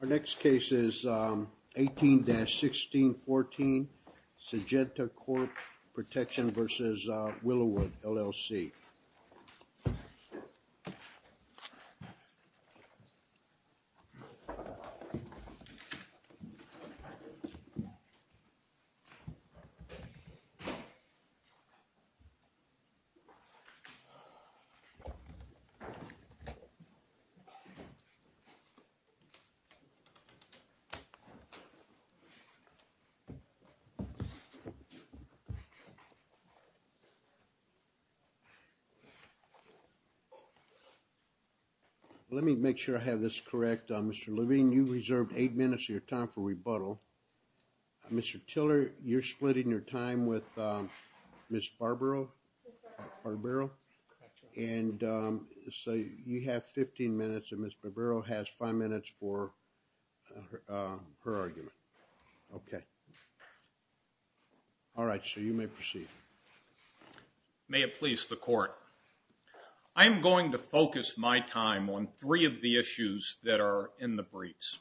Our next case is 18-1614 Sengenta Crop Protection v. Willowood, LLC. Let me make sure I have this correct. Mr. Levine, you reserved eight minutes of your time for rebuttal. Mr. Tiller, you're splitting your time with Ms. Barbaro, and so you have 15 minutes, and Ms. Barbaro has five minutes for her argument. Okay. All right, so you may proceed. May it please the Court, I am going to focus my time on three of the issues that are in the briefs,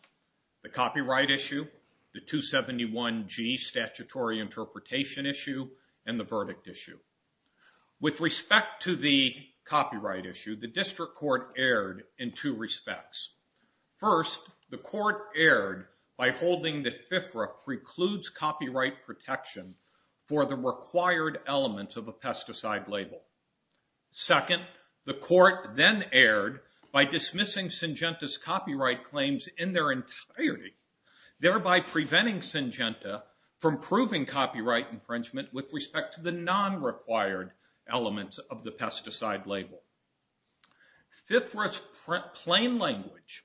the copyright issue, the 271G statutory interpretation issue, and the verdict issue. With respect to the copyright issue, the District Court erred in two respects. First, the Court erred by holding that FFRA precludes copyright protection for the required elements of a pesticide label. Second, the Court then erred by dismissing Sengenta's claims in their entirety, thereby preventing Sengenta from proving copyright infringement with respect to the non-required elements of the pesticide label. Fifth, for its plain language,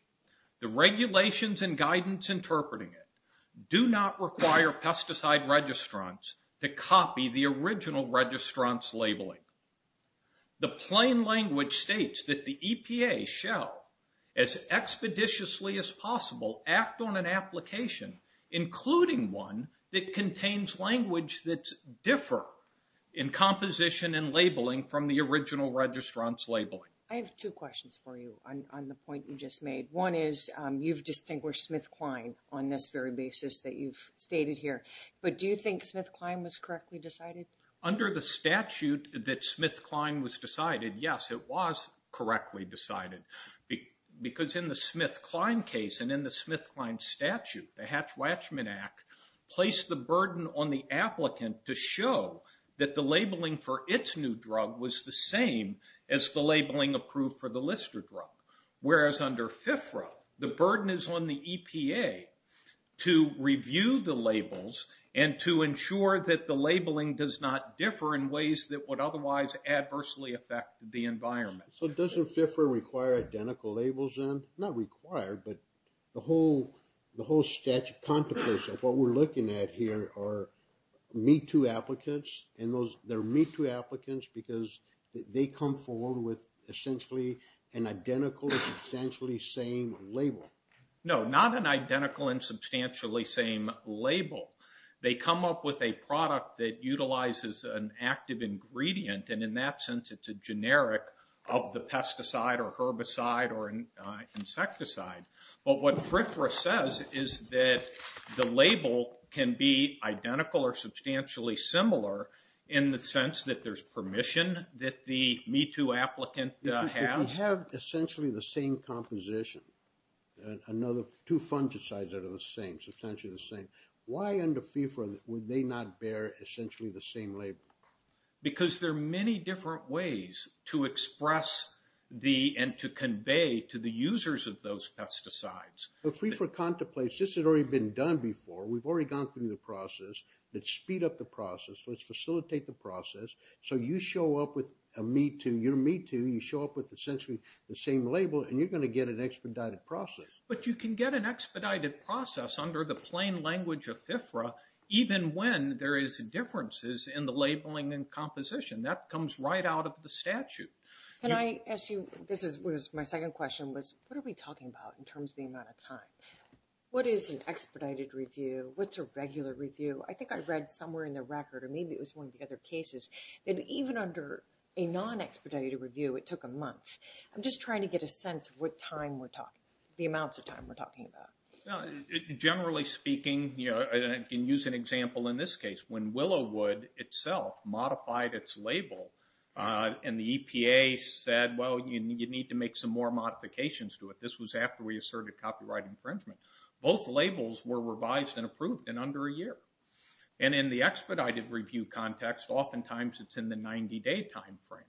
the regulations and guidance interpreting it do not require pesticide registrants to copy the original registrant's labeling. The plain language states that the EPA shall, as expeditiously as possible, act on an application, including one that contains language that differ in composition and labeling from the original registrant's labeling. I have two questions for you on the point you just made. One is, you've distinguished Smith-Klein on this very basis that you've stated here, but do you think Smith-Klein was correctly decided? Under the statute that Smith-Klein was decided, yes, it was correctly decided. Because in the Smith-Klein case and in the Smith-Klein statute, the Hatch-Watchman Act placed the burden on the applicant to show that the labeling for its new drug was the same as the labeling approved for the Lister drug. Whereas under FFRA, the burden is on the EPA to review the So does FFRA require identical labels then? Not required, but the whole statute contemplates that what we're looking at here are Me Too applicants, and they're Me Too applicants because they come forward with essentially an identical and substantially same label. No, not an identical and substantially same label. They come up with a product that utilizes an active ingredient, and in that sense it's a generic of the pesticide or herbicide or insecticide. But what FFRA says is that the label can be identical or substantially similar in the sense that there's permission that the Me Too applicant has. If they have essentially the same composition, two fungicides that are the same, substantially the same, why under FFRA would they not bear essentially the same label? Because there are many different ways to express and to convey to the users of those pesticides. FFRA contemplates, this has already been done before, we've already gone through the process, let's speed up the process, let's facilitate the process, so you show up with a Me Too, you're a Me Too, you show up with essentially the same label, and you're going to get an expedited process. But you can get an expedited process under the plain language of FFRA even when there is differences in the labeling and composition. That comes right out of the statute. Can I ask you, this is my second question, what are we talking about in terms of the amount of time? What is an expedited review? What's a regular review? I think I read somewhere in the record, or maybe it was one of the other cases, that even under a non-expedited review, it took a month. I'm just trying to get a sense of what time we're talking, the amounts of time we're talking about. Generally speaking, I can use an example in this case, when Willowwood itself modified its label, and the EPA said, well, you need to make some more modifications to it. This was after we asserted copyright infringement. Both labels were revised and approved in under a year. And in the expedited review context, oftentimes it's in the 90-day time frame.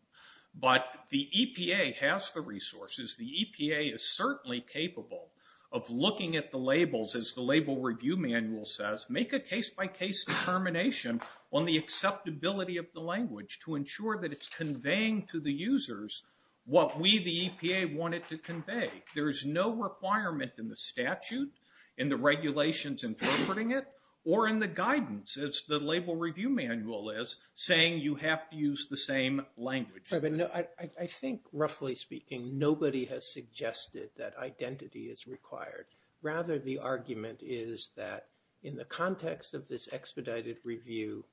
But the EPA has the resources. The EPA is certainly capable of looking at the labels, as the label review manual says, make a case-by-case determination on the acceptability of the language to ensure that it's conveying to the users what we, the EPA, wanted to convey. There is no requirement in the statute, in the regulations interpreting it, or in the guidance, as the label review manual is, saying you have to use the same language. I think, roughly speaking, nobody has suggested that identity is required. Rather, the argument is that in the context of this expedited review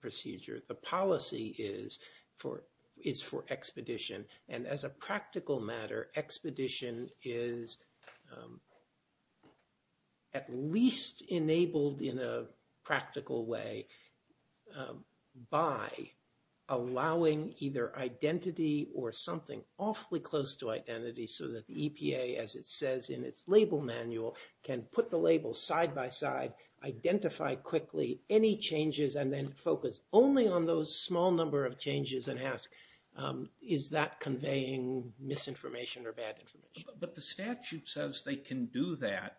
procedure, the policy is for expedition. And as a practical matter, expedition is at least enabled in a practical way by allowing either identity or something awfully close to identity, so that the EPA, as it says in its label manual, can put the labels side-by-side, identify quickly any changes, and then focus only on those small number of changes and ask, is that conveying misinformation or bad information? But the statute says they can do that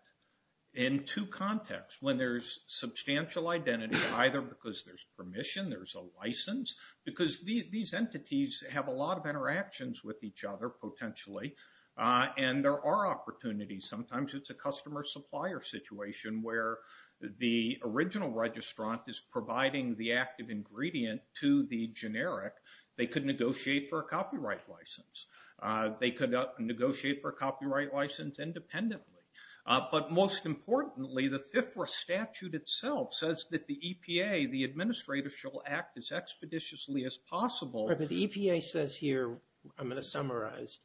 in two contexts. When there's substantial identity, either because there's permission, there's a license, because these entities have a lot of interactions with each other, potentially, and there are opportunities. Sometimes it's a customer-supplier situation where the original registrant is providing the active ingredient to the generic. They could negotiate for a copyright license. They could negotiate for a copyright license independently. But most importantly, the FFRA statute itself says that the EPA, the administrator, shall act as expeditiously as possible. But the EPA says here, I'm going to summarize,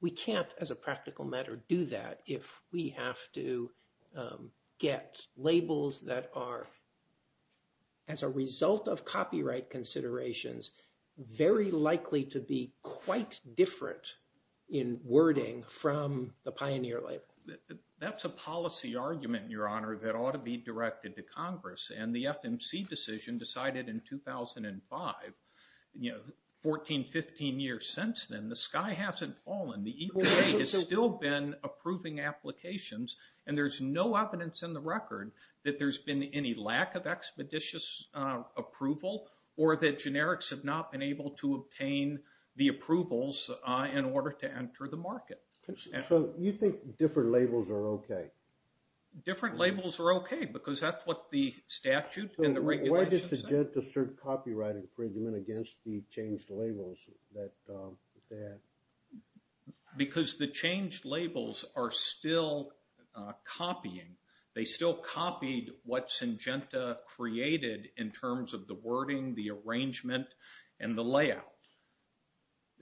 we can't, as a practical matter, do that if we have to get labels that are, as a result of copyright considerations, very likely to be quite different in wording from the pioneer label. That's a policy argument, Your Honor, that ought to be directed to Congress. And the FMC decision decided in 2005, 14, 15 years since then, the sky hasn't fallen. The EPA has still been approving applications, and there's no evidence in the record that there's been any lack of expeditious approval or that generics have not been able to obtain the approvals in order to enter the market. So you think different labels are okay? Different labels are okay because that's what the statute and the regulations say. Why does Syngenta assert copyright infringement against the changed labels that they have? Because the changed labels are still copying. They still copied what Syngenta created in terms of the wording, the arrangement, and the layout.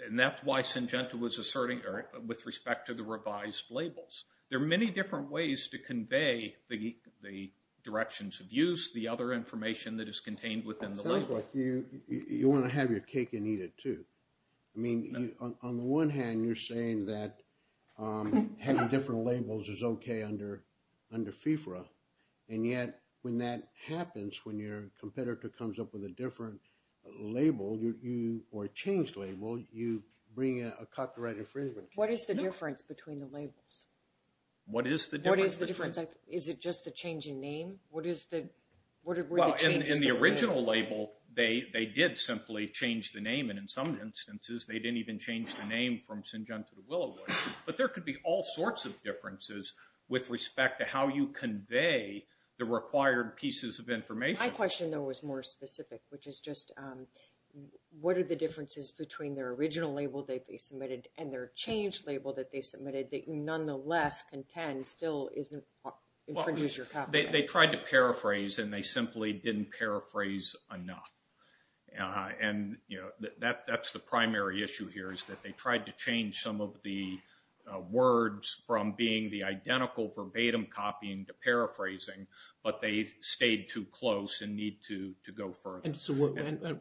And that's why Syngenta was asserting with respect to the revised labels. There are many different ways to convey the directions of use, the other information that is contained within the label. It sounds like you want to have your cake and eat it, too. I mean, on the one hand, you're saying that having different labels is okay under FFRA, and yet when that happens, when your competitor comes up with a different label or a changed label, you bring a copyright infringement. What is the difference between the labels? What is the difference? What is the difference? Is it just the changing name? In the original label, they did simply change the name. And in some instances, they didn't even change the name from Syngenta to Willowood. But there could be all sorts of differences with respect to how you convey the required pieces of information. My question, though, was more specific, which is just, what are the differences between their original label they submitted and their changed label that they submitted that nonetheless contends still infringes your copyright? They tried to paraphrase, and they simply didn't paraphrase enough. And, you know, that's the primary issue here is that they tried to change some of the words from being the identical verbatim copying to paraphrasing, but they stayed too close and need to go further. And so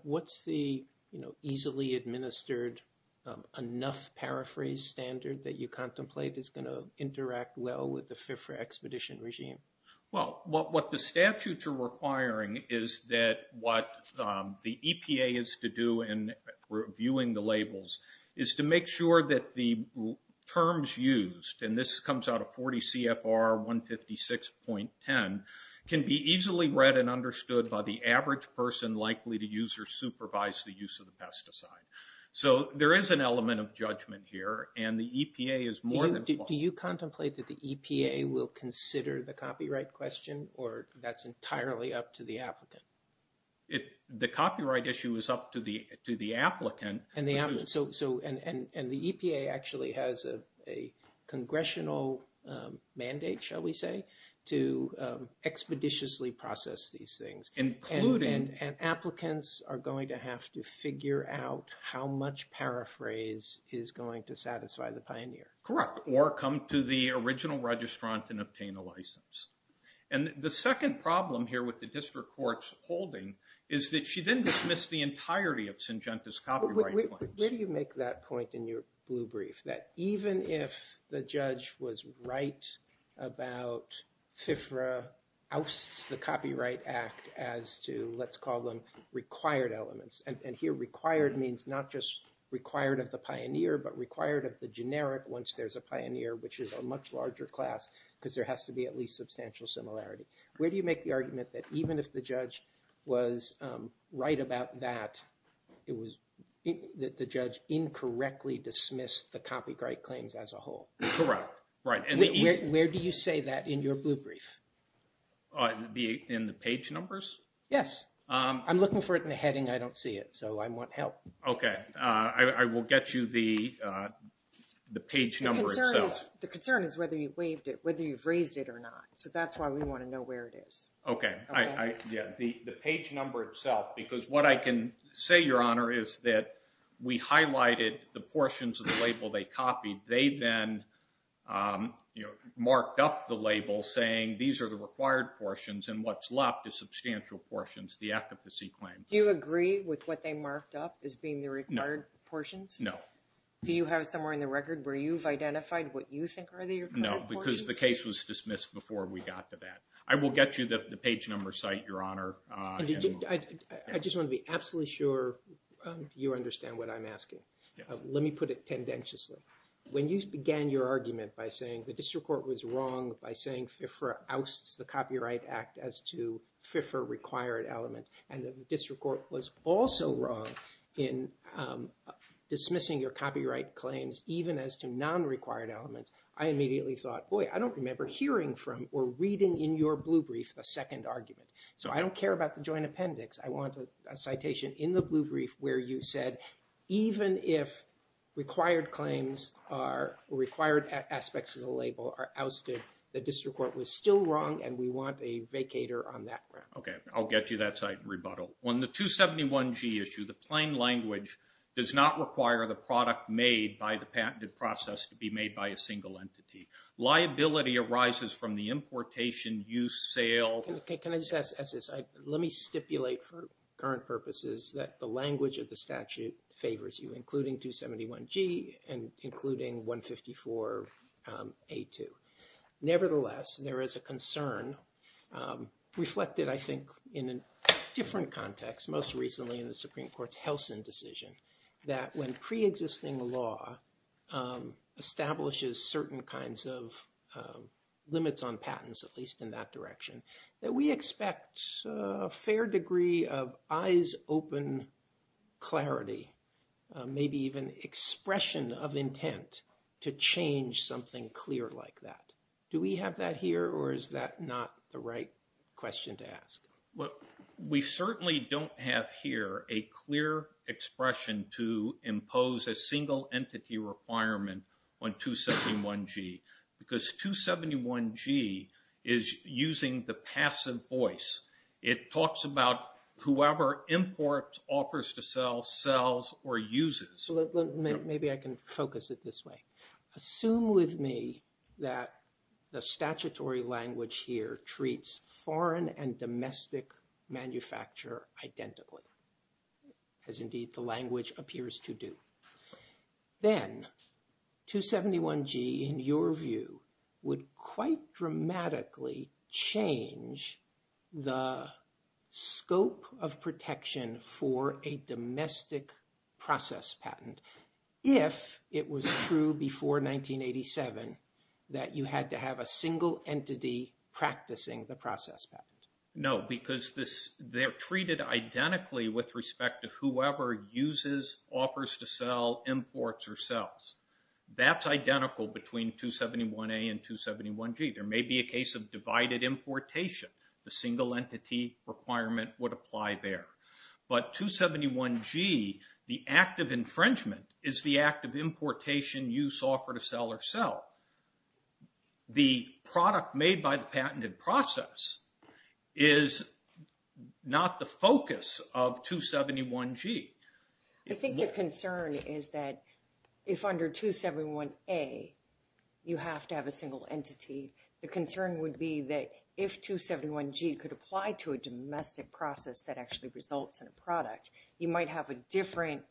what's the, you know, easily administered enough paraphrase standard that you contemplate is going to interact well with the FIFRA expedition regime? Well, what the statutes are requiring is that what the EPA is to do in reviewing the labels is to make sure that the terms used, and this comes out of 40 CFR 156.10, can be easily read and understood by the average person likely to use or supervise the use of the pesticide. So there is an element of judgment here, and the EPA is more than... Do you contemplate that the EPA will consider the copyright question, or that's entirely up to the applicant? The copyright issue is up to the applicant. And the EPA actually has a congressional mandate, shall we say, to expeditiously process these things. And applicants are going to have to figure out how much paraphrase is going to satisfy the pioneer. Correct, or come to the original registrant and obtain a license. And the second problem here with the district court's holding is that she then dismissed the entirety of Syngenta's copyright claims. Where do you make that point in your blue brief, that even if the judge was right about FIFRA, ousts the Copyright Act as to, let's call them, required elements. And here required means not just required of the pioneer, but required of the generic once there's a pioneer, which is a much larger class, because there has to be at least substantial similarity. Where do you make the argument that even if the judge was right about that, that the judge incorrectly dismissed the copyright claims as a whole? Correct. Where do you say that in your blue brief? In the page numbers? Yes. I'm looking for it in the heading. I don't see it, so I want help. Okay. I will get you the page number itself. The concern is whether you've raised it or not, so that's why we want to know where it is. Okay. The page number itself, because what I can say, Your Honor, is that we highlighted the portions of the label they copied. They then marked up the label saying these are the required portions, and what's left is substantial portions, the efficacy claims. Do you agree with what they marked up as being the required portions? No. Do you have somewhere in the record where you've identified what you think are the required portions? No, because the case was dismissed before we got to that. I will get you the page number site, Your Honor. I just want to be absolutely sure you understand what I'm asking. Let me put it tendentiously. When you began your argument by saying the district court was wrong by saying FIFRA ousts the Copyright Act as to FIFRA-required elements, and the district court was also wrong in dismissing your copyright claims even as to non-required elements, I immediately thought, boy, I don't remember hearing from or reading in your blue brief the second argument, so I don't care about the joint appendix. I want a citation in the blue brief where you said even if required claims are required aspects of the label are ousted, the district court was still wrong, and we want a vacator on that ground. Okay, I'll get you that site and rebuttal. On the 271G issue, the plain language does not require the product made by the patented process to be made by a single entity. Liability arises from the importation, use, sale. Can I just ask this? Let me stipulate for current purposes that the language of the statute favors you, including 271G and including 154A2. Nevertheless, there is a concern reflected, I think, in a different context, most recently in the Supreme Court's Helsin decision that when preexisting law establishes certain kinds of limits on patents, at least in that direction, that we expect a fair degree of eyes-open clarity, maybe even expression of intent to change something clear like that. Do we have that here or is that not the right question to ask? Well, we certainly don't have here a clear expression to impose a single entity requirement on 271G because 271G is using the passive voice. It talks about whoever imports, offers to sell, sells, or uses. Maybe I can focus it this way. Assume with me that the statutory language here treats foreign and domestic manufacturer identically, as indeed the language appears to do. Then 271G, in your view, would quite dramatically change the scope of protection for a domestic process patent if it was true before 1987 that you had to have a single entity practicing the process patent. No, because they're treated identically with respect to whoever uses, offers to sell, imports, or sells. That's identical between 271A and 271G. There may be a case of divided importation. The single entity requirement would apply there. But 271G, the act of infringement, is the act of importation, use, offer to sell, or sell. The product made by the patented process is not the focus of 271G. I think the concern is that if under 271A you have to have a single entity, the concern would be that if 271G could apply to a domestic process that actually results in a product, you might have a different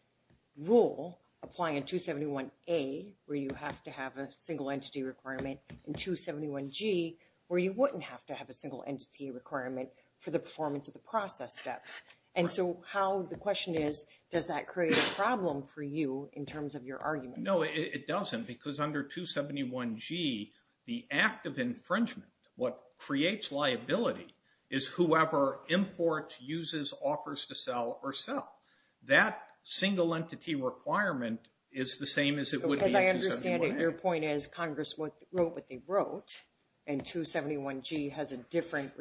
rule applying in 271A, where you have to have a single entity requirement, in 271G, where you wouldn't have to have a single entity requirement for the performance of the process steps. And so the question is, does that create a problem for you in terms of your argument? No, it doesn't, because under 271G, the act of infringement, what creates liability, is whoever imports, uses, offers to sell, or sell. That single entity requirement is the same as it would be in 271A. As I understand it, your point is Congress wrote what they wrote, and 271G has a different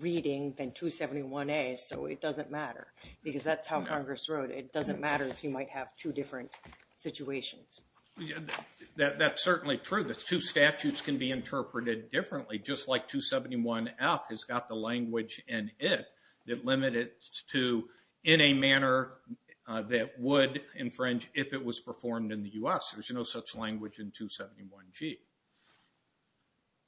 reading than 271A, so it doesn't matter. Because that's how Congress wrote it. It doesn't matter if you might have two different situations. That's certainly true. The two statutes can be interpreted differently, just like 271F has got the language in it that limit it to in a manner that would infringe if it was performed in the U.S. There's no such language in 271G.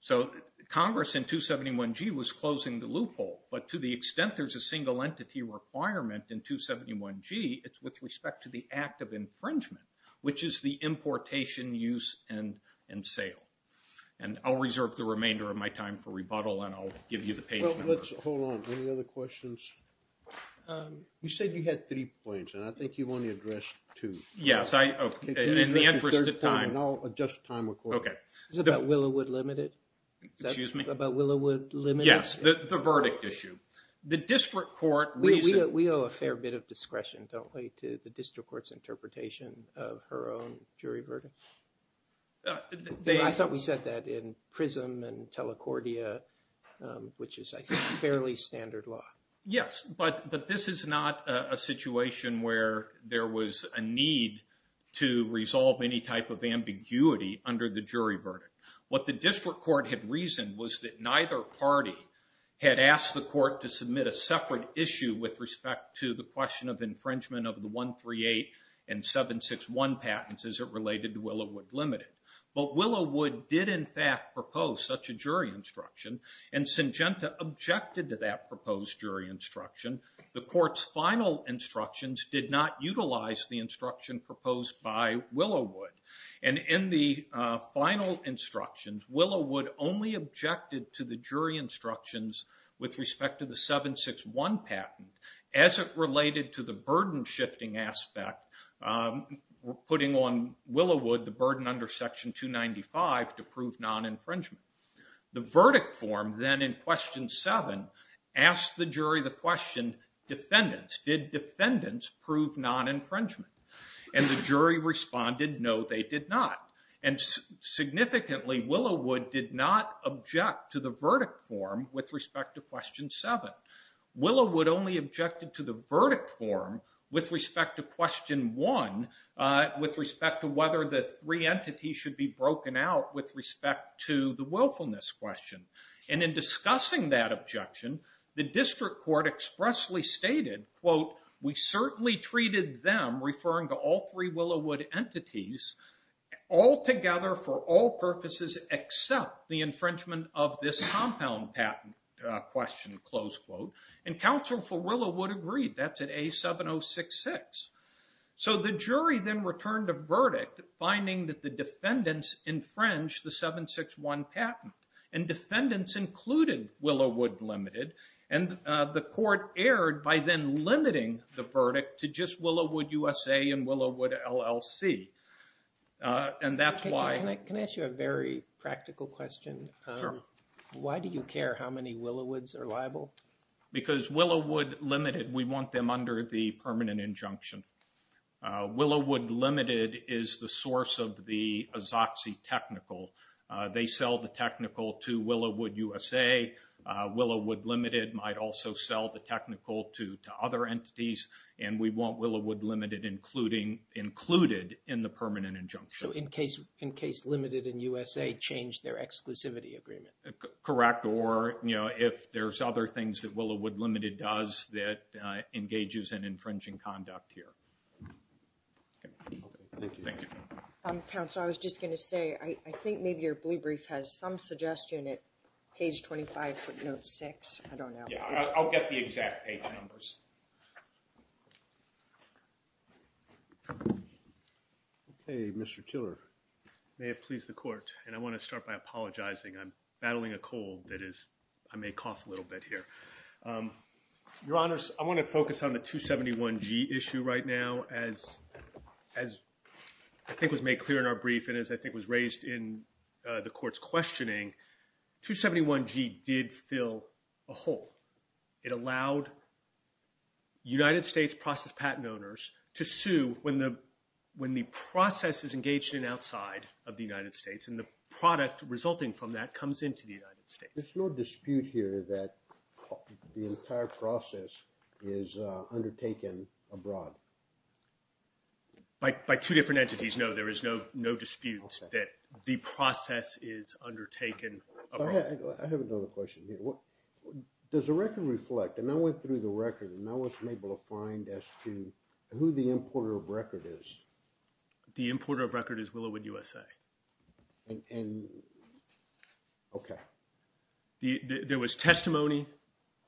So Congress in 271G was closing the loophole, but to the extent there's a single entity requirement in 271G, it's with respect to the act of infringement, which is the importation, use, and sale. I'll reserve the remainder of my time for rebuttal, and I'll give you the page number. Hold on. Any other questions? You said you had three points, and I think you've only addressed two. Yes, in the interest of time. I'll adjust time accordingly. Is it about Willowwood Limited? Excuse me? Is that about Willowwood Limited? Yes, the verdict issue. We owe a fair bit of discretion, don't we, to the district court's interpretation of her own jury verdict? I thought we said that in PRISM and Telecordia, which is, I think, fairly standard law. Yes, but this is not a situation where there was a need to resolve any type of ambiguity under the jury verdict. What the district court had reasoned was that neither party had asked the court to submit a separate issue with respect to the question of infringement of the 138 and 761 patents as it related to Willowwood Limited. But Willowwood did, in fact, propose such a jury instruction, and Syngenta objected to that proposed jury instruction. The court's final instructions did not utilize the instruction proposed by Willowwood. And in the final instructions, Willowwood only objected to the jury instructions with respect to the 761 patent as it related to the burden-shifting aspect, putting on Willowwood the burden under Section 295 to prove non-infringement. The verdict form then, in Question 7, asked the jury the question, did defendants prove non-infringement? And the jury responded, no, they did not. And significantly, Willowwood did not object to the verdict form with respect to Question 7. Willowwood only objected to the verdict form with respect to Question 1, with respect to whether the three entities should be broken out with respect to the willfulness question. And in discussing that objection, the district court expressly stated, quote, we certainly treated them, referring to all three Willowwood entities, altogether for all purposes except the infringement of this compound patent question, close quote. And counsel for Willowwood agreed. That's at A7066. So the jury then returned a verdict, finding that the defendants infringed the 761 patent. And defendants included Willowwood Limited. And the court erred by then limiting the verdict to just Willowwood USA and Willowwood LLC. And that's why... Can I ask you a very practical question? Sure. Why do you care how many Willowwoods are liable? Because Willowwood Limited, we want them under the permanent injunction. Willowwood Limited is the source of the Azoxi Technical. They sell the technical to Willowwood USA. Willowwood Limited might also sell the technical to other entities. And we want Willowwood Limited included in the permanent injunction. So in case Limited and USA change their exclusivity agreement. Correct. Or, you know, if there's other things that Willowwood Limited does that engages in infringing conduct here. Okay. Thank you. Thank you. Counsel, I was just going to say, I think maybe your blue brief has some suggestion at page 25 footnote 6. I don't know. Yeah, I'll get the exact page numbers. Okay, Mr. Tiller. May it please the court. And I want to start by apologizing. I'm battling a cold that is... I may cough a little bit here. Your Honor, I want to focus on the 271G issue right now. As I think was made clear in our brief and as I think was raised in the court's questioning, 271G did fill a hole. It allowed United States process patent owners to sue when the process is engaged in outside of the United States. And the product resulting from that comes into the United States. There's no dispute here that the entire process is undertaken abroad. By two different entities, no. There is no dispute that the process is undertaken abroad. I have another question here. Does the record reflect, and I went through the record, and I wasn't able to find as to who the importer of record is. The importer of record is Willowwood USA. And... Okay. There was testimony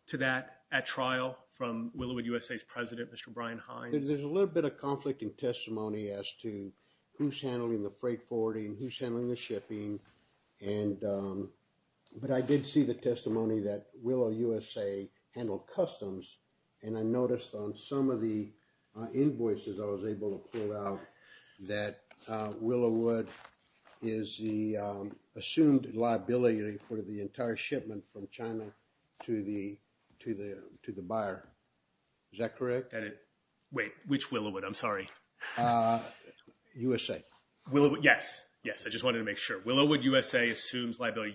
to that at trial from Willowwood USA's president, Mr. Brian Hines. There's a little bit of conflict in testimony as to who's handling the freight forwarding, who's handling the shipping, and... But I did see the testimony that Willowwood USA handled customs. And I noticed on some of the invoices I was able to pull out that Willowwood is the assumed liability for the entire shipment from China to the buyer. Is that correct? Wait. Which Willowwood? I'm sorry. USA. Willowwood... Yes. Yes. I just wanted to make sure. Willowwood USA assumes liability.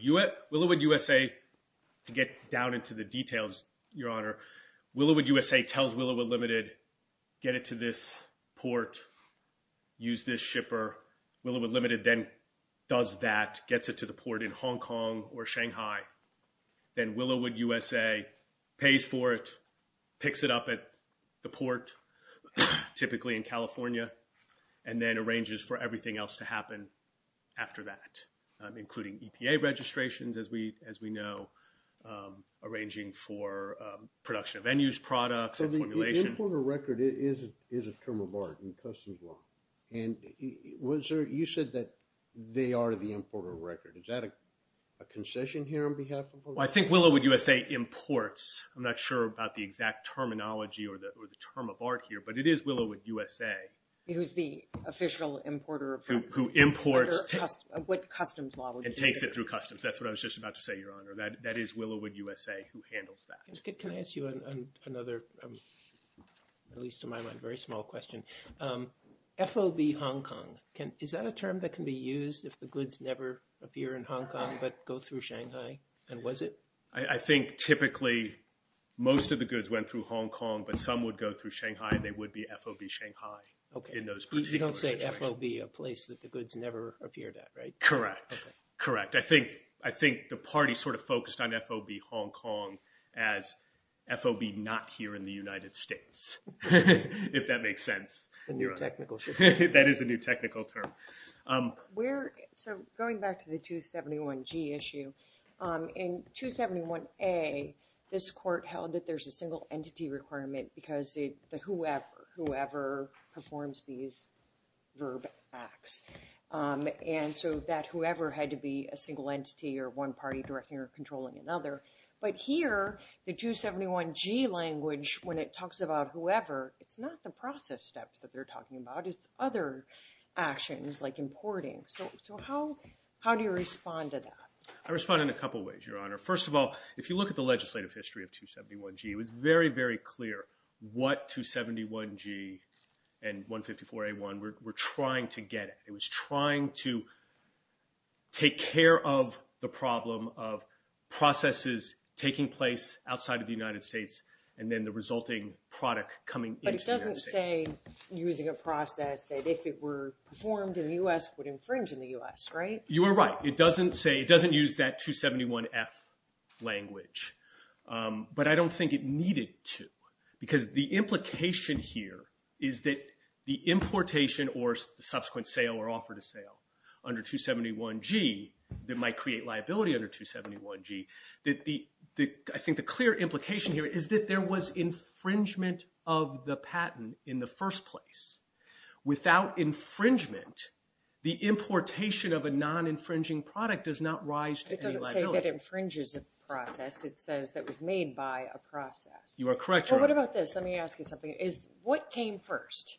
Willowwood USA, to get down into the details, Your Honor, Willowwood USA tells Willowwood Limited, get it to this port, use this shipper. Willowwood Limited then does that, gets it to the port in Hong Kong or Shanghai. Then Willowwood USA pays for it, picks it up at the port, typically in California, and then arranges for everything else to happen after that, including EPA registrations, as we know, arranging for production of venues, products, and formulation. So the importer record is a term of art in customs law. And you said that they are the importer record. Is that a concession here on behalf of Willowwood? Well, I think Willowwood USA imports. I'm not sure about the exact terminology or the term of art here, but it is Willowwood USA. Who's the official importer of products? Who imports. What customs law would you say? And takes it through customs. That's what I was just about to say, Your Honor. That is Willowwood USA who handles that. Can I ask you another, at least to my mind, very small question? FOB Hong Kong. Is that a term that can be used if the goods never appear in Hong Kong but go through Shanghai? And was it? I think typically most of the goods went through Hong Kong, but some would go through Shanghai, and they would be FOB Shanghai in those particular situations. You don't say FOB a place that the goods never appeared at, right? Correct. Correct. I think the party sort of focused on FOB Hong Kong as FOB not here in the United States, if that makes sense. It's a new technical term. That is a new technical term. So going back to the 271G issue, in 271A, this court held that there's a single entity requirement because whoever performs these verb acts. And so that whoever had to be a single entity or one party directing or controlling another. But here, the 271G language, when it talks about whoever, it's not the process steps that they're talking about. It's other actions like importing. So how do you respond to that? I respond in a couple ways, Your Honor. First of all, if you look at the legislative history of 271G, it was very, very clear what 271G and 154A1 were trying to get at. It was trying to take care of the problem of processes taking place outside of the United States and then the resulting product coming into the United States. But it doesn't say using a process that if it were performed in the U.S. would infringe in the U.S., right? You are right. It doesn't use that 271F language. But I don't think it needed to. Because the implication here is that the importation or subsequent sale or offer to sale under 271G that might create liability under 271G, I think the clear implication here is that there was infringement of the patent in the first place. Without infringement, the importation of a non-infringing product does not rise to any liability. It doesn't say that it infringes a process. It says that it was made by a process. You are correct, Your Honor. Well, what about this? Let me ask you something. What came first,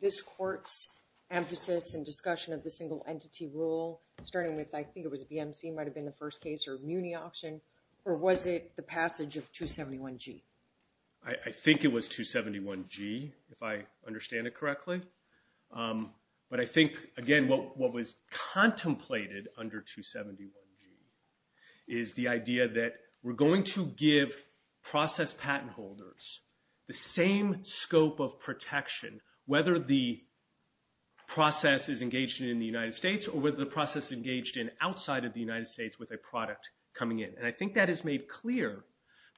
this court's emphasis and discussion of the single entity rule, starting with I think it was BMC might have been the first case or Muni Auction, or was it the passage of 271G? I think it was 271G, if I understand it correctly. But I think, again, what was contemplated under 271G is the idea that we're going to give process patent holders the same scope of protection, whether the process is engaged in the United States or whether the process is engaged in outside of the United States with a product coming in. And I think that is made clear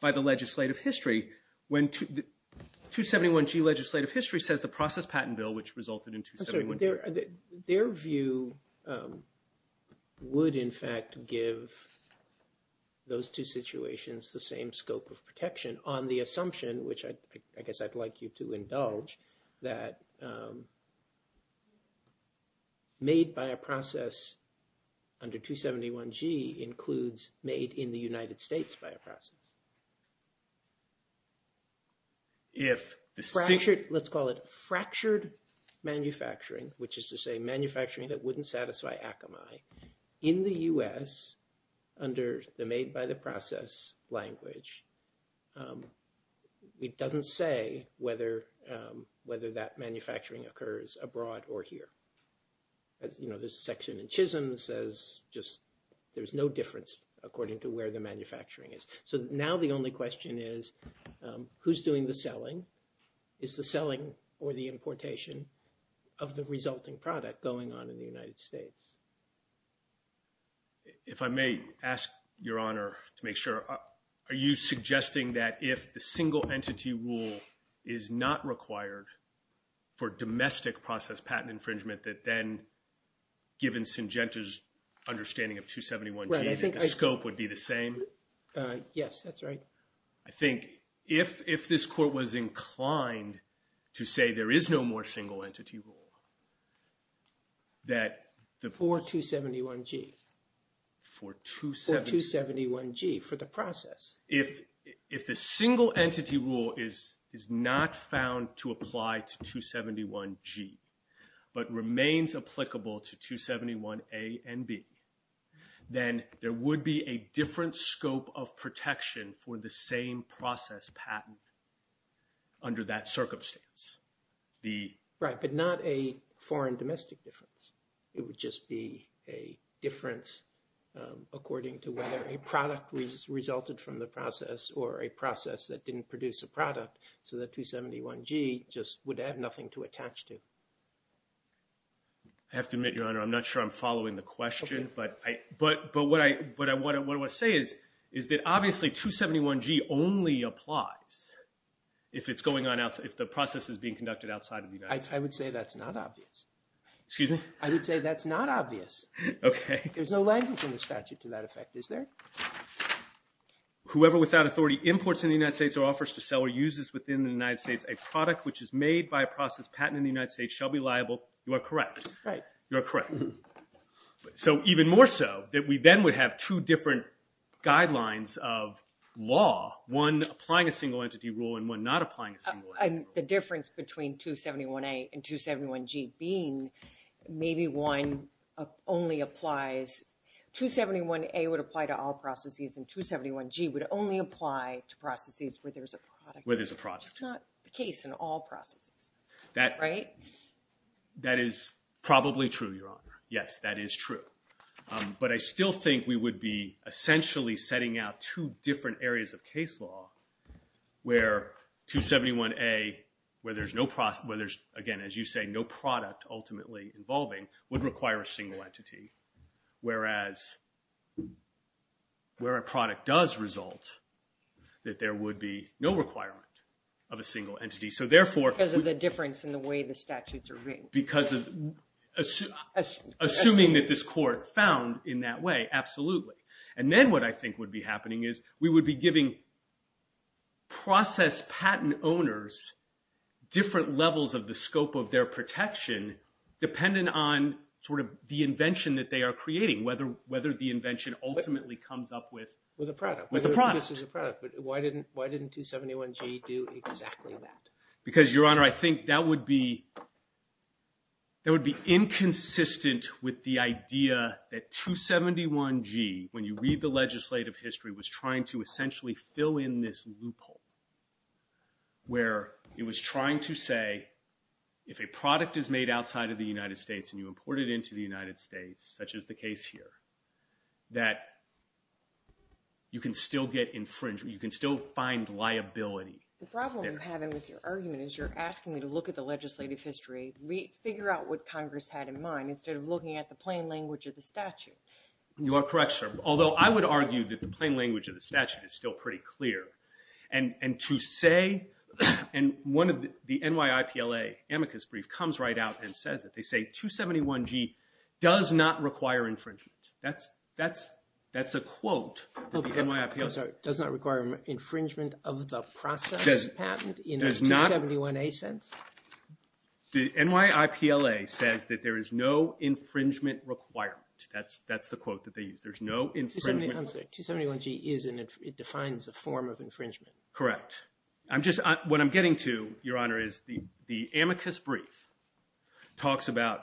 by the legislative history. 271G legislative history says the process patent bill, which resulted in 271G. Their view would, in fact, give those two situations the same scope of protection on the assumption, which I guess I'd like you to indulge, that made by a process under 271G includes made in the United States by a process. Let's call it fractured manufacturing, which is to say manufacturing that wouldn't satisfy Akamai. In the U.S. under the made by the process language, it doesn't say whether that manufacturing occurs abroad or here. You know, there's a section in Chisholm that says just there's no difference according to where the manufacturing is. So now the only question is, who's doing the selling? Is the selling or the importation of the resulting product going on in the United States? If I may ask, Your Honor, to make sure. Are you suggesting that if the single entity rule is not required for domestic process patent infringement that then, given Syngenta's understanding of 271G, the scope would be the same? Yes, that's right. I think if this court was inclined to say there is no more single entity rule, that the… For 271G. For 271… For 271G, for the process. If the single entity rule is not found to apply to 271G but remains applicable to 271A and B, then there would be a different scope of protection for the same process patent under that circumstance. Right, but not a foreign domestic difference. It would just be a difference according to whether a product resulted from the process or a process that didn't produce a product, so that 271G just would have nothing to attach to. I have to admit, Your Honor, I'm not sure I'm following the question, but what I want to say is that obviously 271G only applies if it's going on outside, if the process is being conducted outside of the United States. I would say that's not obvious. Excuse me? I would say that's not obvious. Okay. There's no language in the statute to that effect, is there? Whoever without authority imports in the United States or offers to sell or uses within the United States a product which is made by a process patent in the United States shall be liable. You are correct. Right. You are correct. So even more so, that we then would have two different guidelines of law, one applying a single entity rule and one not applying a single entity rule. The difference between 271A and 271G being maybe one only applies – 271A would apply to all processes and 271G would only apply to processes where there's a product. Where there's a product. It's not the case in all processes, right? That is probably true, Your Honor. Yes, that is true. But I still think we would be essentially setting out two different areas of case law where 271A, where there's, again, as you say, no product ultimately involving, would require a single entity. Whereas, where a product does result, that there would be no requirement of a single entity. Because of the difference in the way the statutes are written. Assuming that this court found in that way, absolutely. And then what I think would be happening is we would be giving process patent owners different levels of the scope of their protection dependent on sort of the invention that they are creating. Whether the invention ultimately comes up with a product. Why didn't 271G do exactly that? Because, Your Honor, I think that would be inconsistent with the idea that 271G, when you read the legislative history, was trying to essentially fill in this loophole. Where it was trying to say, if a product is made outside of the United States and you import it into the United States, such as the case here, that you can still get infringement. You can still find liability. The problem you're having with your argument is you're asking me to look at the legislative history, figure out what Congress had in mind, instead of looking at the plain language of the statute. You are correct, sir. Although, I would argue that the plain language of the statute is still pretty clear. And to say, and one of the NYIPLA amicus brief comes right out and says it. They say, 271G does not require infringement. That's a quote from the NYIPLA. I'm sorry. Does not require infringement of the process patent in the 271A sense? The NYIPLA says that there is no infringement requirement. That's the quote that they use. There's no infringement. I'm sorry. 271G defines a form of infringement. Correct. What I'm getting to, Your Honor, is the amicus brief talks about,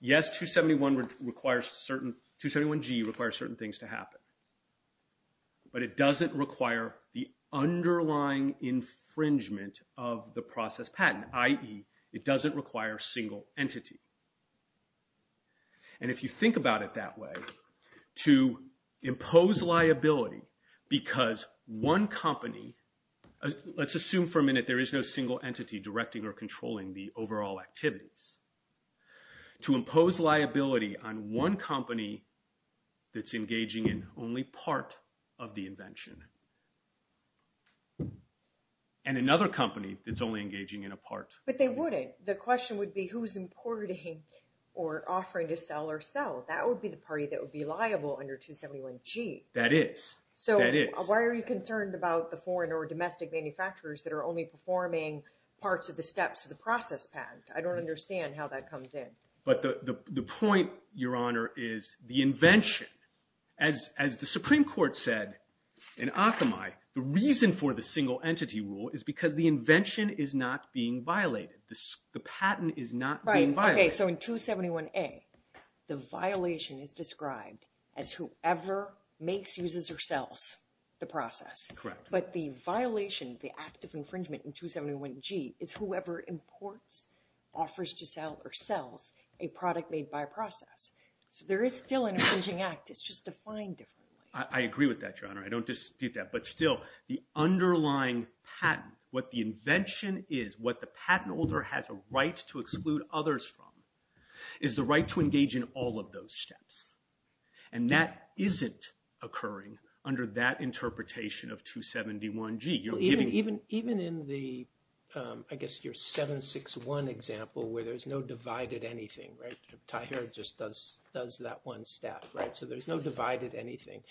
yes, 271G requires certain things to happen. But it doesn't require the underlying infringement of the process patent, i.e., it doesn't require a single entity. And if you think about it that way, to impose liability because one company, let's assume for a minute there is no single entity directing or controlling the overall activities. To impose liability on one company that's engaging in only part of the invention. And another company that's only engaging in a part. But they wouldn't. The question would be who's importing or offering to sell or sell. That would be the party that would be liable under 271G. That is. So why are you concerned about the foreign or domestic manufacturers that are only performing parts of the steps of the process patent? I don't understand how that comes in. But the point, Your Honor, is the invention. As the Supreme Court said in Akamai, the reason for the single entity rule is because the invention is not being violated. The patent is not being violated. Right. Okay. So in 271A, the violation is described as whoever makes, uses, or sells the process. Correct. But the violation, the act of infringement in 271G is whoever imports, offers to sell, or sells a product made by process. So there is still an infringing act. It's just defined differently. I agree with that, Your Honor. I don't dispute that. But still, the underlying patent, what the invention is, what the patent holder has a right to exclude others from, is the right to engage in all of those steps. And that isn't occurring under that interpretation of 271G. Even in the, I guess, your 761 example where there's no divided anything, right? Taher just does that one step, right? So there's no divided anything.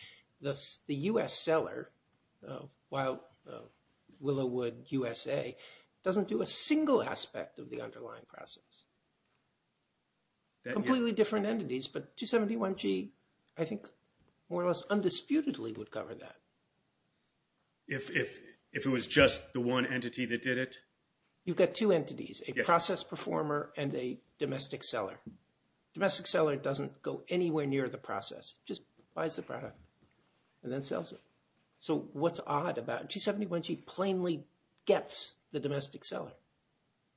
The U.S. seller, while Willowwood, USA, doesn't do a single aspect of the underlying process. Completely different entities. But 271G, I think, more or less undisputedly would cover that. If it was just the one entity that did it? You've got two entities, a process performer and a domestic seller. Domestic seller doesn't go anywhere near the process. Just buys the product and then sells it. So what's odd about 271G plainly gets the domestic seller?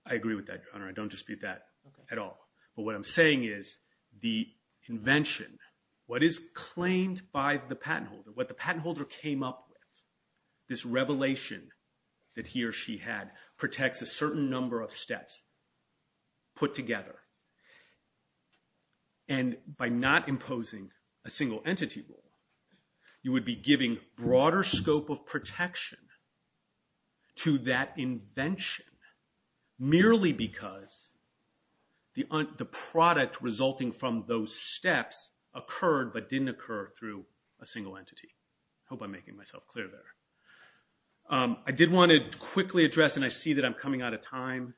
I agree with that, Your Honor. I don't dispute that at all. But what I'm saying is the invention, what is claimed by the patent holder, what the patent holder came up with, this revelation that he or she had, protects a certain number of steps put together. And by not imposing a single entity rule, you would be giving broader scope of protection to that invention merely because the product resulting from those steps occurred but didn't occur through a single entity. Hope I'm making myself clear there. I did want to quickly address, and I see that I'm coming out of time.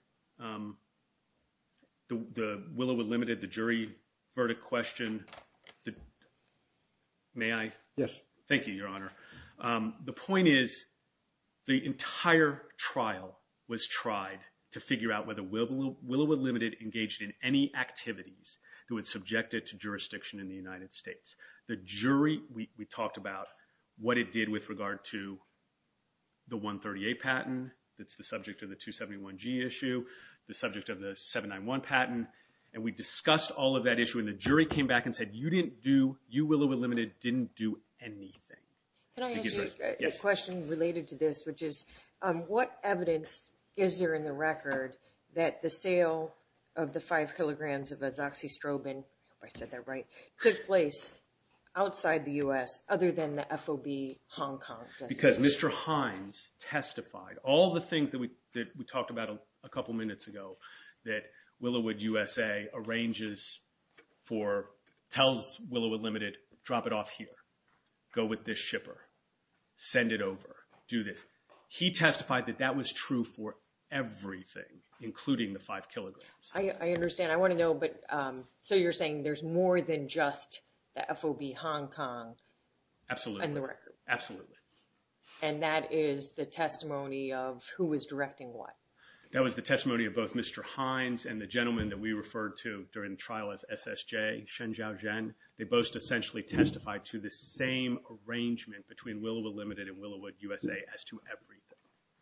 The Willowwood Limited, the jury verdict question, may I? Yes. Thank you, Your Honor. The point is the entire trial was tried to figure out whether Willowwood Limited engaged in any activities that would subject it to jurisdiction in the United States. The jury, we talked about what it did with regard to the 138 patent that's the subject of the 271G issue, the subject of the 791 patent. And we discussed all of that issue and the jury came back and said, you didn't do, you, Willowwood Limited, didn't do anything. Can I ask you a question related to this, which is, what evidence is there in the record that the sale of the five kilograms of a Zoxistrobin, I hope I said that right, took place outside the U.S. other than the FOB Hong Kong? Because Mr. Hines testified, all the things that we talked about a couple minutes ago, that Willowwood USA arranges for, tells Willowwood Limited, drop it off here, go with this shipper, send it over, do this. He testified that that was true for everything, including the five kilograms. I understand. I want to know, so you're saying there's more than just the FOB Hong Kong? Absolutely. In the record. Absolutely. And that is the testimony of who is directing what? That was the testimony of both Mr. Hines and the gentleman that we referred to during the trial as SSJ, Shen Zhaozhen. They both essentially testified to the same arrangement between Willowwood Limited and Willowwood USA as to everything.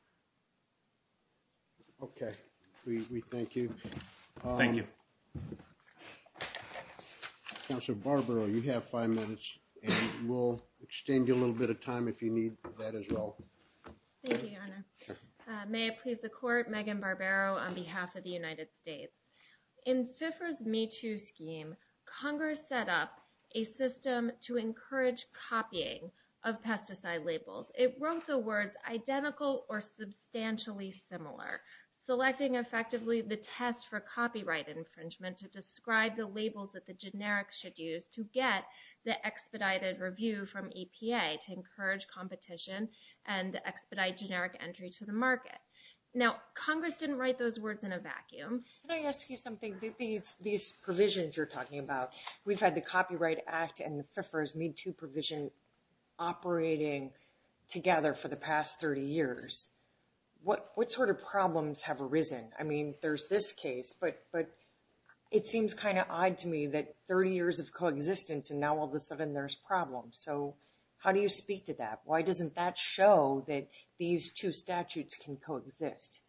Okay. We thank you. Thank you. Counselor Barbaro, you have five minutes, and we'll extend you a little bit of time if you need that as well. Thank you, Your Honor. May it please the Court, Megan Barbaro on behalf of the United States. In FIFRA's Me Too scheme, Congress set up a system to encourage copying of pesticide labels. It wrote the words identical or substantially similar, selecting effectively the test for copyright infringement to describe the labels that the generic should use to get the expedited review from EPA to encourage competition and expedite generic entry to the market. Now, Congress didn't write those words in a vacuum. Can I ask you something? These provisions you're talking about, we've had the Copyright Act and FIFRA's Me Too provision operating together for the past 30 years. What sort of problems have arisen? I mean, there's this case, but it seems kind of odd to me that 30 years of coexistence and now all of a sudden there's problems. So how do you speak to that? Why doesn't that show that these two statutes can coexist?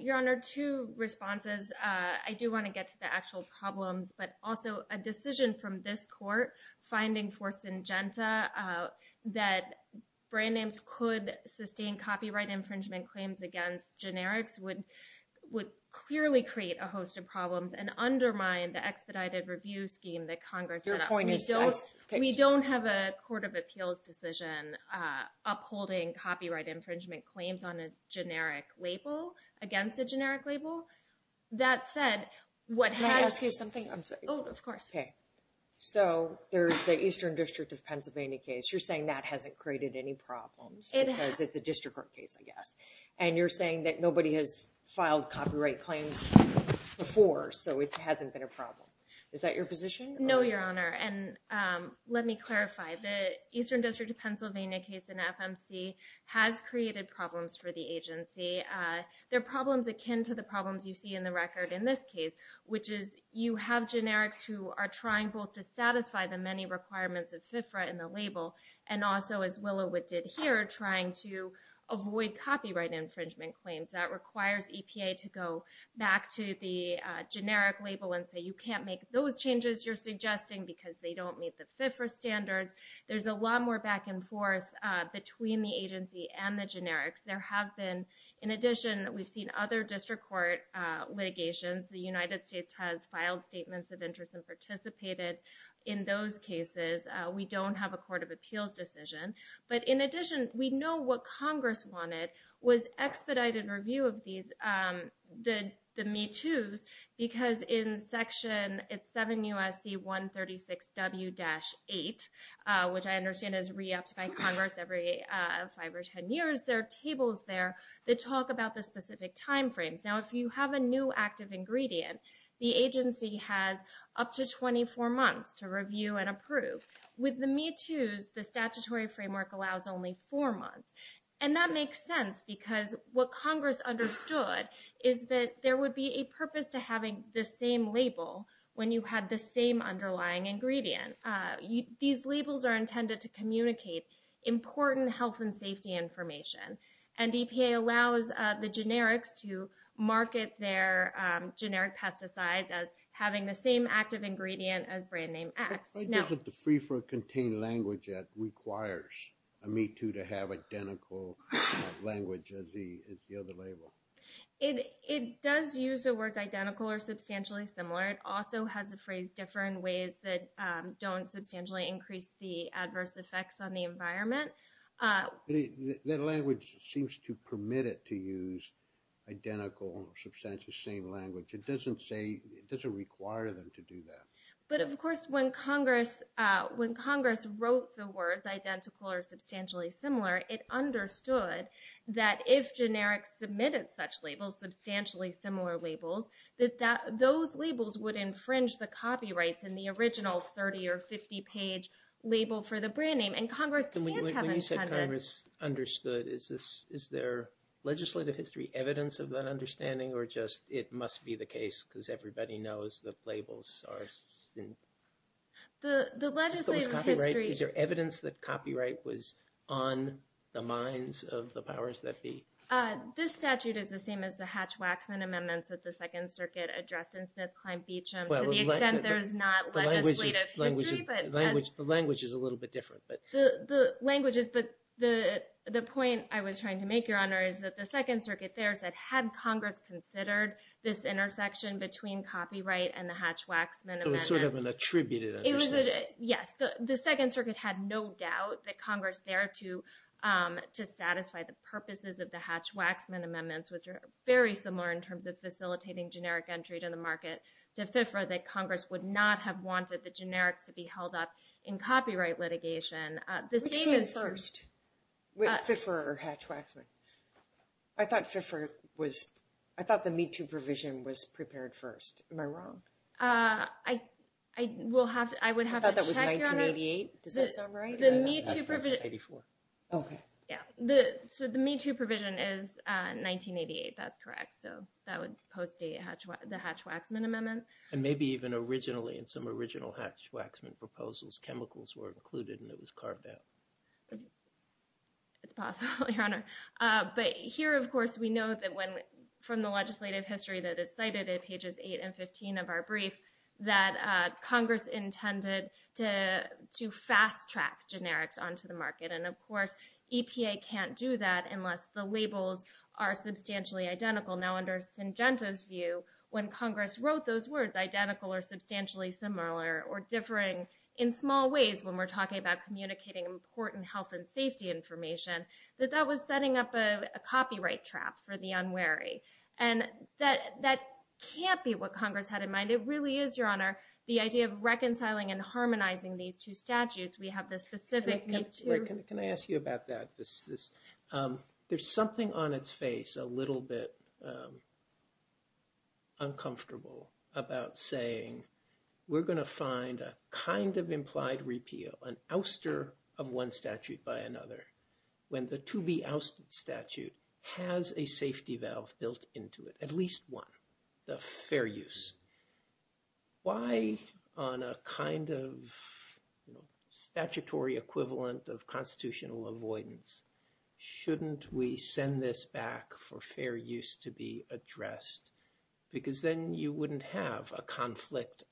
Your Honor, two responses. I do want to get to the actual problems, but also a decision from this Court finding for Syngenta that brand names could sustain copyright infringement claims against generics would clearly create a host of problems and undermine the expedited review scheme that Congress set up. Your point is this? We don't have a Court of Appeals decision upholding copyright infringement claims on a generic label against a generic label. Can I ask you something? Oh, of course. So there's the Eastern District of Pennsylvania case. You're saying that hasn't created any problems because it's a district court case, I guess. And you're saying that nobody has filed copyright claims before, so it hasn't been a problem. Is that your position? No, Your Honor. And let me clarify. The Eastern District of Pennsylvania case in FMC has created problems for the agency. They're problems akin to the problems you see in the record in this case, which is you have generics who are trying both to satisfy the many requirements of FIFRA in the label and also, as Willowit did here, trying to avoid copyright infringement claims. That requires EPA to go back to the generic label and say, you can't make those changes you're suggesting because they don't meet the FIFRA standards. There's a lot more back and forth between the agency and the generics. In addition, we've seen other district court litigations. The United States has filed statements of interest and participated in those cases. We don't have a Court of Appeals decision. But in addition, we know what Congress wanted was expedited review of these, the MeToos, because in Section 7 U.S.C. 136 W-8, which I understand is re-upped by Congress every 5 or 10 years, there are tables there that talk about the specific time frames. Now, if you have a new active ingredient, the agency has up to 24 months to review and approve. With the MeToos, the statutory framework allows only 4 months. And that makes sense because what Congress understood is that there would be a purpose to having the same label when you had the same underlying ingredient. These labels are intended to communicate important health and safety information. And EPA allows the generics to market their generic pesticides as having the same active ingredient as brand name X. Why doesn't the free-for-contain language that requires a MeToo to have identical language as the other label? It does use the words identical or substantially similar. It also has the phrase differ in ways that don't substantially increase the adverse effects on the environment. The language seems to permit it to use identical, substantially same language. It doesn't say, it doesn't require them to do that. But, of course, when Congress wrote the words identical or substantially similar, it understood that if generics submitted such labels, substantially similar labels, that those labels would infringe the copyrights in the original 30- or 50-page label for the brand name. And Congress can't have intended... When you said Congress understood, is there legislative history evidence of that understanding? Or just it must be the case because everybody knows that labels are... The legislative history... Is there evidence that copyright was on the minds of the powers that be? This statute is the same as the Hatch-Waxman amendments that the Second Circuit addressed in Smith-Klein-Beacham. To the extent there is not legislative history, but... The language is a little bit different. The language there is that the Second Circuit there said, had Congress considered this intersection between copyright and the Hatch-Waxman amendments... It was sort of an attributed intersection. Yes. The Second Circuit had no doubt that Congress there to satisfy the purposes of the Hatch-Waxman amendments, which are very similar in terms of facilitating generic entry to the market, to fiffer that Congress would not have wanted the generics to be held up in copyright litigation. Which came first? Fiffer or Hatch-Waxman? I thought fiffer was... I thought the Me Too provision was prepared first. Am I wrong? I would have to check, Your Honor. I thought that was 1988. Does that sound right? The Me Too provision... 1984. Okay. So the Me Too provision is 1988. That's correct. So that would post the Hatch-Waxman amendment. And maybe even originally in some original Hatch-Waxman proposals, chemicals were included and it was carved out. It's possible, Your Honor. But here, of course, we know from the legislative history that is cited in pages 8 and 15 of our brief that Congress intended to fast-track generics onto the market. And, of course, EPA can't do that unless the labels are substantially identical. Now, under Syngenta's view, when Congress wrote those words, identical or substantially similar or differing in small ways when we're talking about communicating important health and safety information, that that was setting up a copyright trap for the unwary. And that can't be what Congress had in mind. It really is, Your Honor, the idea of reconciling and harmonizing these two statutes. We have this specific Me Too... Can I ask you about that? There's something on its face a little bit uncomfortable about saying, we're going to find a kind of implied repeal, an ouster of one statute by another, when the to be ousted statute has a safety valve built into it, at least one, the fair use. Why on a kind of statutory equivalent of constitutional avoidance shouldn't we send this back for fair use to be addressed? Because then you wouldn't have a conflict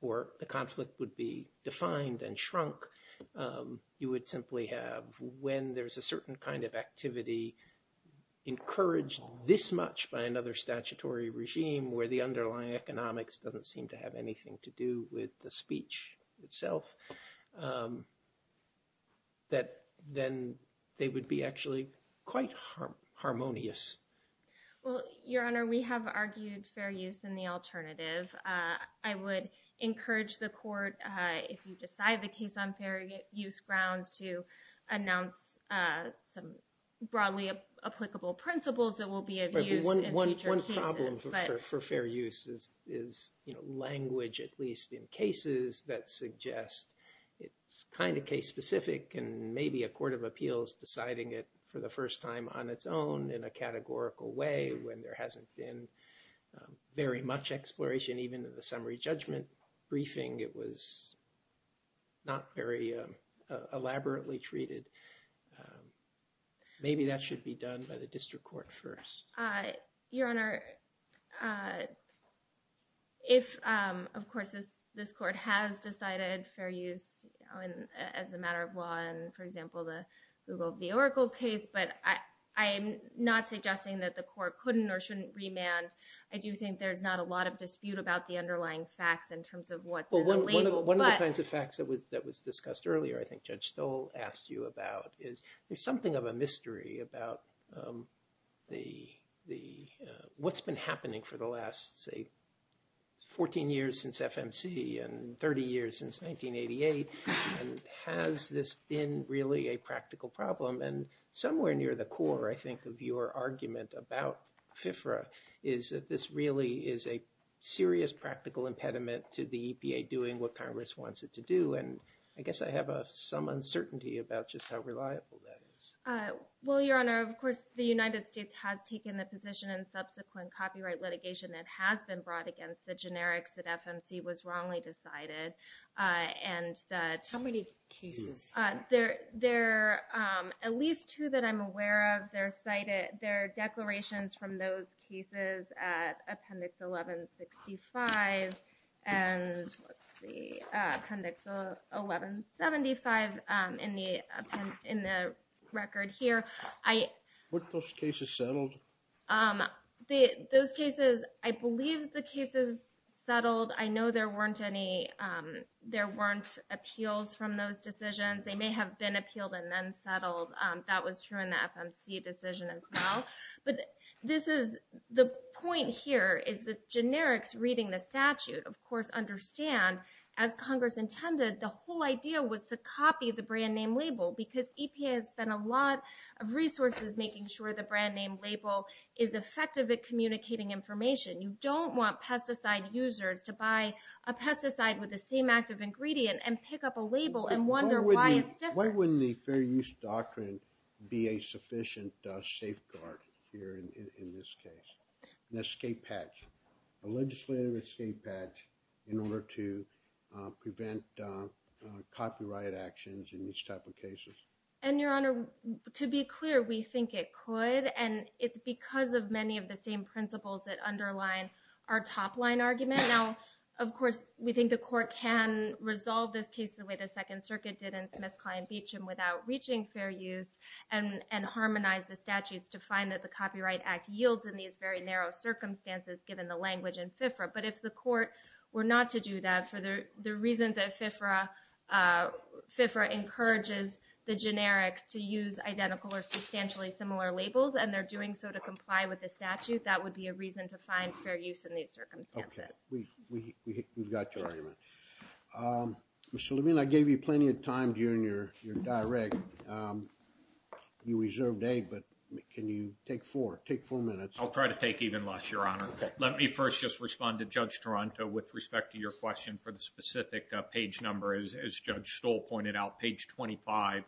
or the conflict would be defined and shrunk. You would simply have when there's a certain kind of activity encouraged this much by another statutory regime where the underlying economics doesn't seem to have anything to do with the speech itself, that then they would be actually quite harmonious. Well, Your Honor, we have argued fair use in the alternative. I would encourage the court, if you decide the case on fair use grounds, to announce some broadly applicable principles that will be of use in future cases. One problem for fair use is language, at least in cases that suggest it's kind of case specific and maybe a court of appeals deciding it for the first time on its own in a categorical way when there hasn't been very much exploration, even in the summary judgment briefing, it was not very elaborately treated. Maybe that should be done by the district court first. Your Honor, if, of course, this court has decided fair use as a matter of law, for example, the Google v. Oracle case, but I'm not suggesting that the court couldn't or shouldn't remand. I do think there's not a lot of dispute about the underlying facts in terms of what's in the label. One of the kinds of facts that was discussed earlier, I think Judge Stoll asked you about, is there's something of a mystery about what's been happening for the last, say, 14 years since FMC and 30 years since 1988, and has this been really a practical problem? And somewhere near the core, I think, of your argument about FIFRA is that this really is a serious practical impediment to the EPA doing what Congress wants it to do. And I guess I have some uncertainty about just how reliable that is. Well, Your Honor, of course, the United States has taken the position in subsequent copyright litigation that has been brought against the generics that FMC was wrongly decided. How many cases? There are at least two that I'm aware of. There are declarations from those cases at Appendix 1165 and Appendix 1175 in the record here. Weren't those cases settled? Those cases, I believe the cases settled. I know there weren't appeals from those decisions. They may have been appealed and then settled. That was true in the FMC decision as well. But the point here is that generics reading the statute, of course, understand, as Congress intended, the whole idea was to copy the brand name label because EPA has spent a lot of resources making sure the brand name label is effective at communicating information. You don't want pesticide users to buy a pesticide with the same active ingredient and pick up a label and wonder why it's different. Why wouldn't the Fair Use Doctrine be a sufficient safeguard here in this case, an escape patch, a legislative escape patch in order to prevent copyright actions in these type of cases? And, Your Honor, to be clear, we think it could, and it's because of many of the same principles that underline our top line argument. Now, of course, we think the court can resolve this case the way the Second Circuit did in Smith, Klein, Beecham without reaching fair use and harmonize the statutes to find that the Copyright Act yields in these very narrow circumstances given the language in FIFRA. But if the court were not to do that for the reason that FIFRA encourages the generics to use identical or substantially similar labels and they're doing so to comply with the statute, that would be a reason to find fair use in these circumstances. Okay. We've got your argument. Mr. Levine, I gave you plenty of time during your direct. You reserved eight, but can you take four? Take four minutes. I'll try to take even less, Your Honor. Let me first just respond to Judge Toronto with respect to your question for the specific page number. As Judge Stoll pointed out, page 25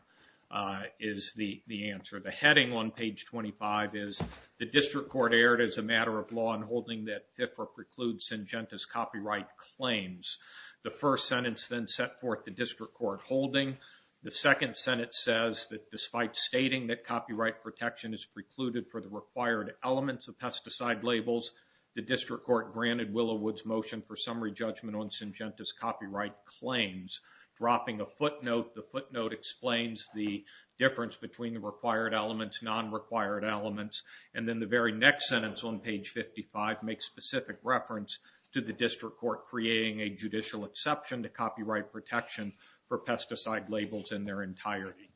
is the answer. The heading on page 25 is, The District Court erred as a matter of law in holding that FIFRA precludes Syngenta's copyright claims. The first sentence then set forth the District Court holding. The second sentence says that despite stating that copyright protection is precluded for the required elements of pesticide labels, the District Court granted Willowood's motion for summary judgment on Syngenta's copyright claims. Dropping a footnote, the footnote explains the difference between the required elements, non-required elements, and then the very next sentence on page 55 makes specific reference to the District Court creating a judicial exception to copyright protection for pesticide labels in their entirety.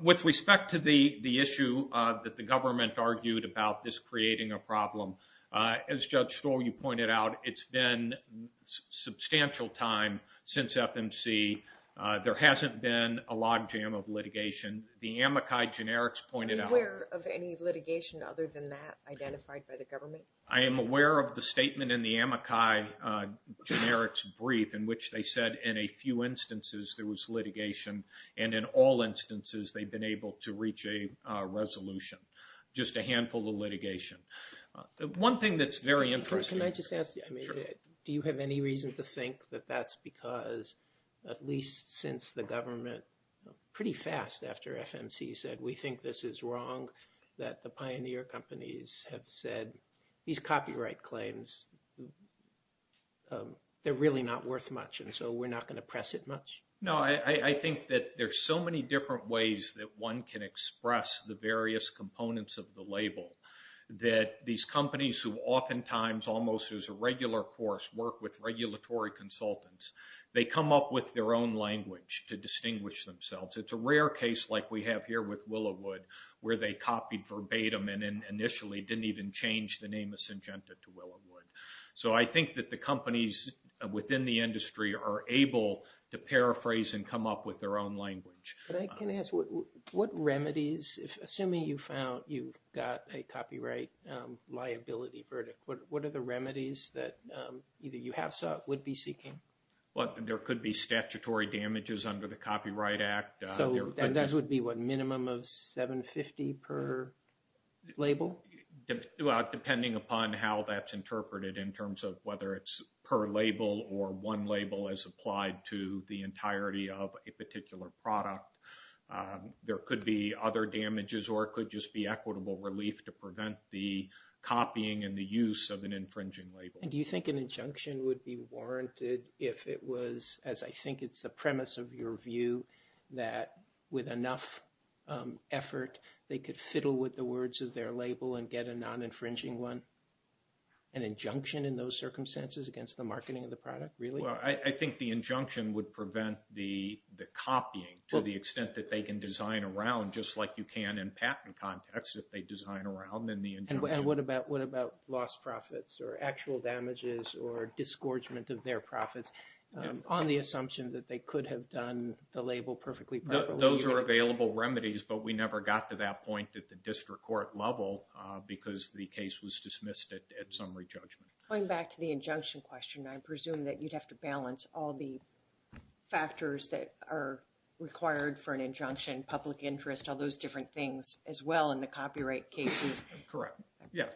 With respect to the issue that the government argued about this creating a problem, as Judge Stoll, you pointed out, it's been a substantial time since FMC. There hasn't been a logjam of litigation. The amici generics pointed out... Are you aware of any litigation other than that identified by the government? I am aware of the statement in the amici generics brief in which they said in a few instances there was litigation and in all instances they've been able to reach a resolution. Just a handful of litigation. One thing that's very interesting... Can I just ask you, do you have any reason to think that that's because at least since the government, pretty fast after FMC said we think this is wrong, that the pioneer companies have said these copyright claims, they're really not worth much and so we're not going to press it much? No, I think that there's so many different ways that one can express the various components of the label that these companies who oftentimes almost as a regular course work with regulatory consultants, they come up with their own language to distinguish themselves. It's a rare case like we have here with Willowood where they copied verbatim and initially didn't even change the name of Syngenta to Willowood. So I think that the companies within the industry are able to paraphrase and come up with their own language. But I can ask, what remedies, assuming you found you've got a copyright liability verdict, what are the remedies that either you have sought or would be seeking? Well, there could be statutory damages under the Copyright Act. So that would be what, minimum of $750 per label? Well, depending upon how that's interpreted in terms of whether it's per label or one label as applied to the entirety of a particular product, there could be other damages or it could just be equitable relief to prevent the copying and the use of an infringing label. And do you think an injunction would be warranted if it was, as I think it's the premise of your view, that with enough effort they could fiddle with the words of their label and get a non-infringing one? An injunction in those circumstances against the marketing of the product, really? Well, I think the injunction would prevent the copying to the extent that they can design around, just like you can in patent context if they design around in the injunction. And what about lost profits or actual damages or disgorgement of their profits on the assumption that they could have done the label perfectly properly? Those are available remedies, but we never got to that point at the district court level because the case was dismissed at summary judgment. Going back to the injunction question, I presume that you'd have to balance all the factors that are required for an injunction, public interest, all those different things as well in the copyright cases. Correct. Yeah,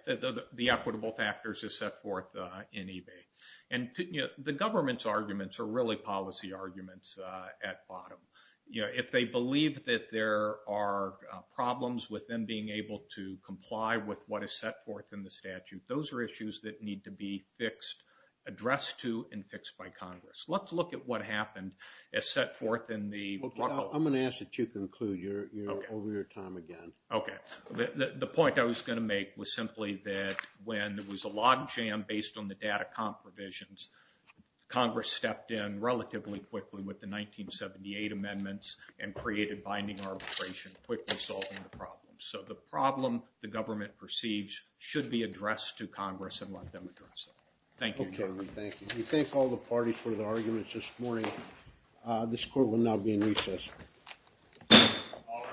the equitable factors is set forth in eBay. And the government's arguments are really policy arguments at bottom. If they believe that there are problems with them being able to comply with what is set forth in the statute, those are issues that need to be fixed, addressed to, and fixed by Congress. Let's look at what happened as set forth in the... Well, Cal, I'm going to ask that you conclude. You're over your time again. Okay. The point I was going to make was simply that when there was a log jam based on the data comp revisions, Congress stepped in relatively quickly with the 1978 amendments and created binding arbitration quickly solving the problem. So the problem the government perceives should be addressed to Congress and let them address it. Thank you. Okay, thank you. We thank all the parties for their arguments this morning. This court will now be in recess. All rise.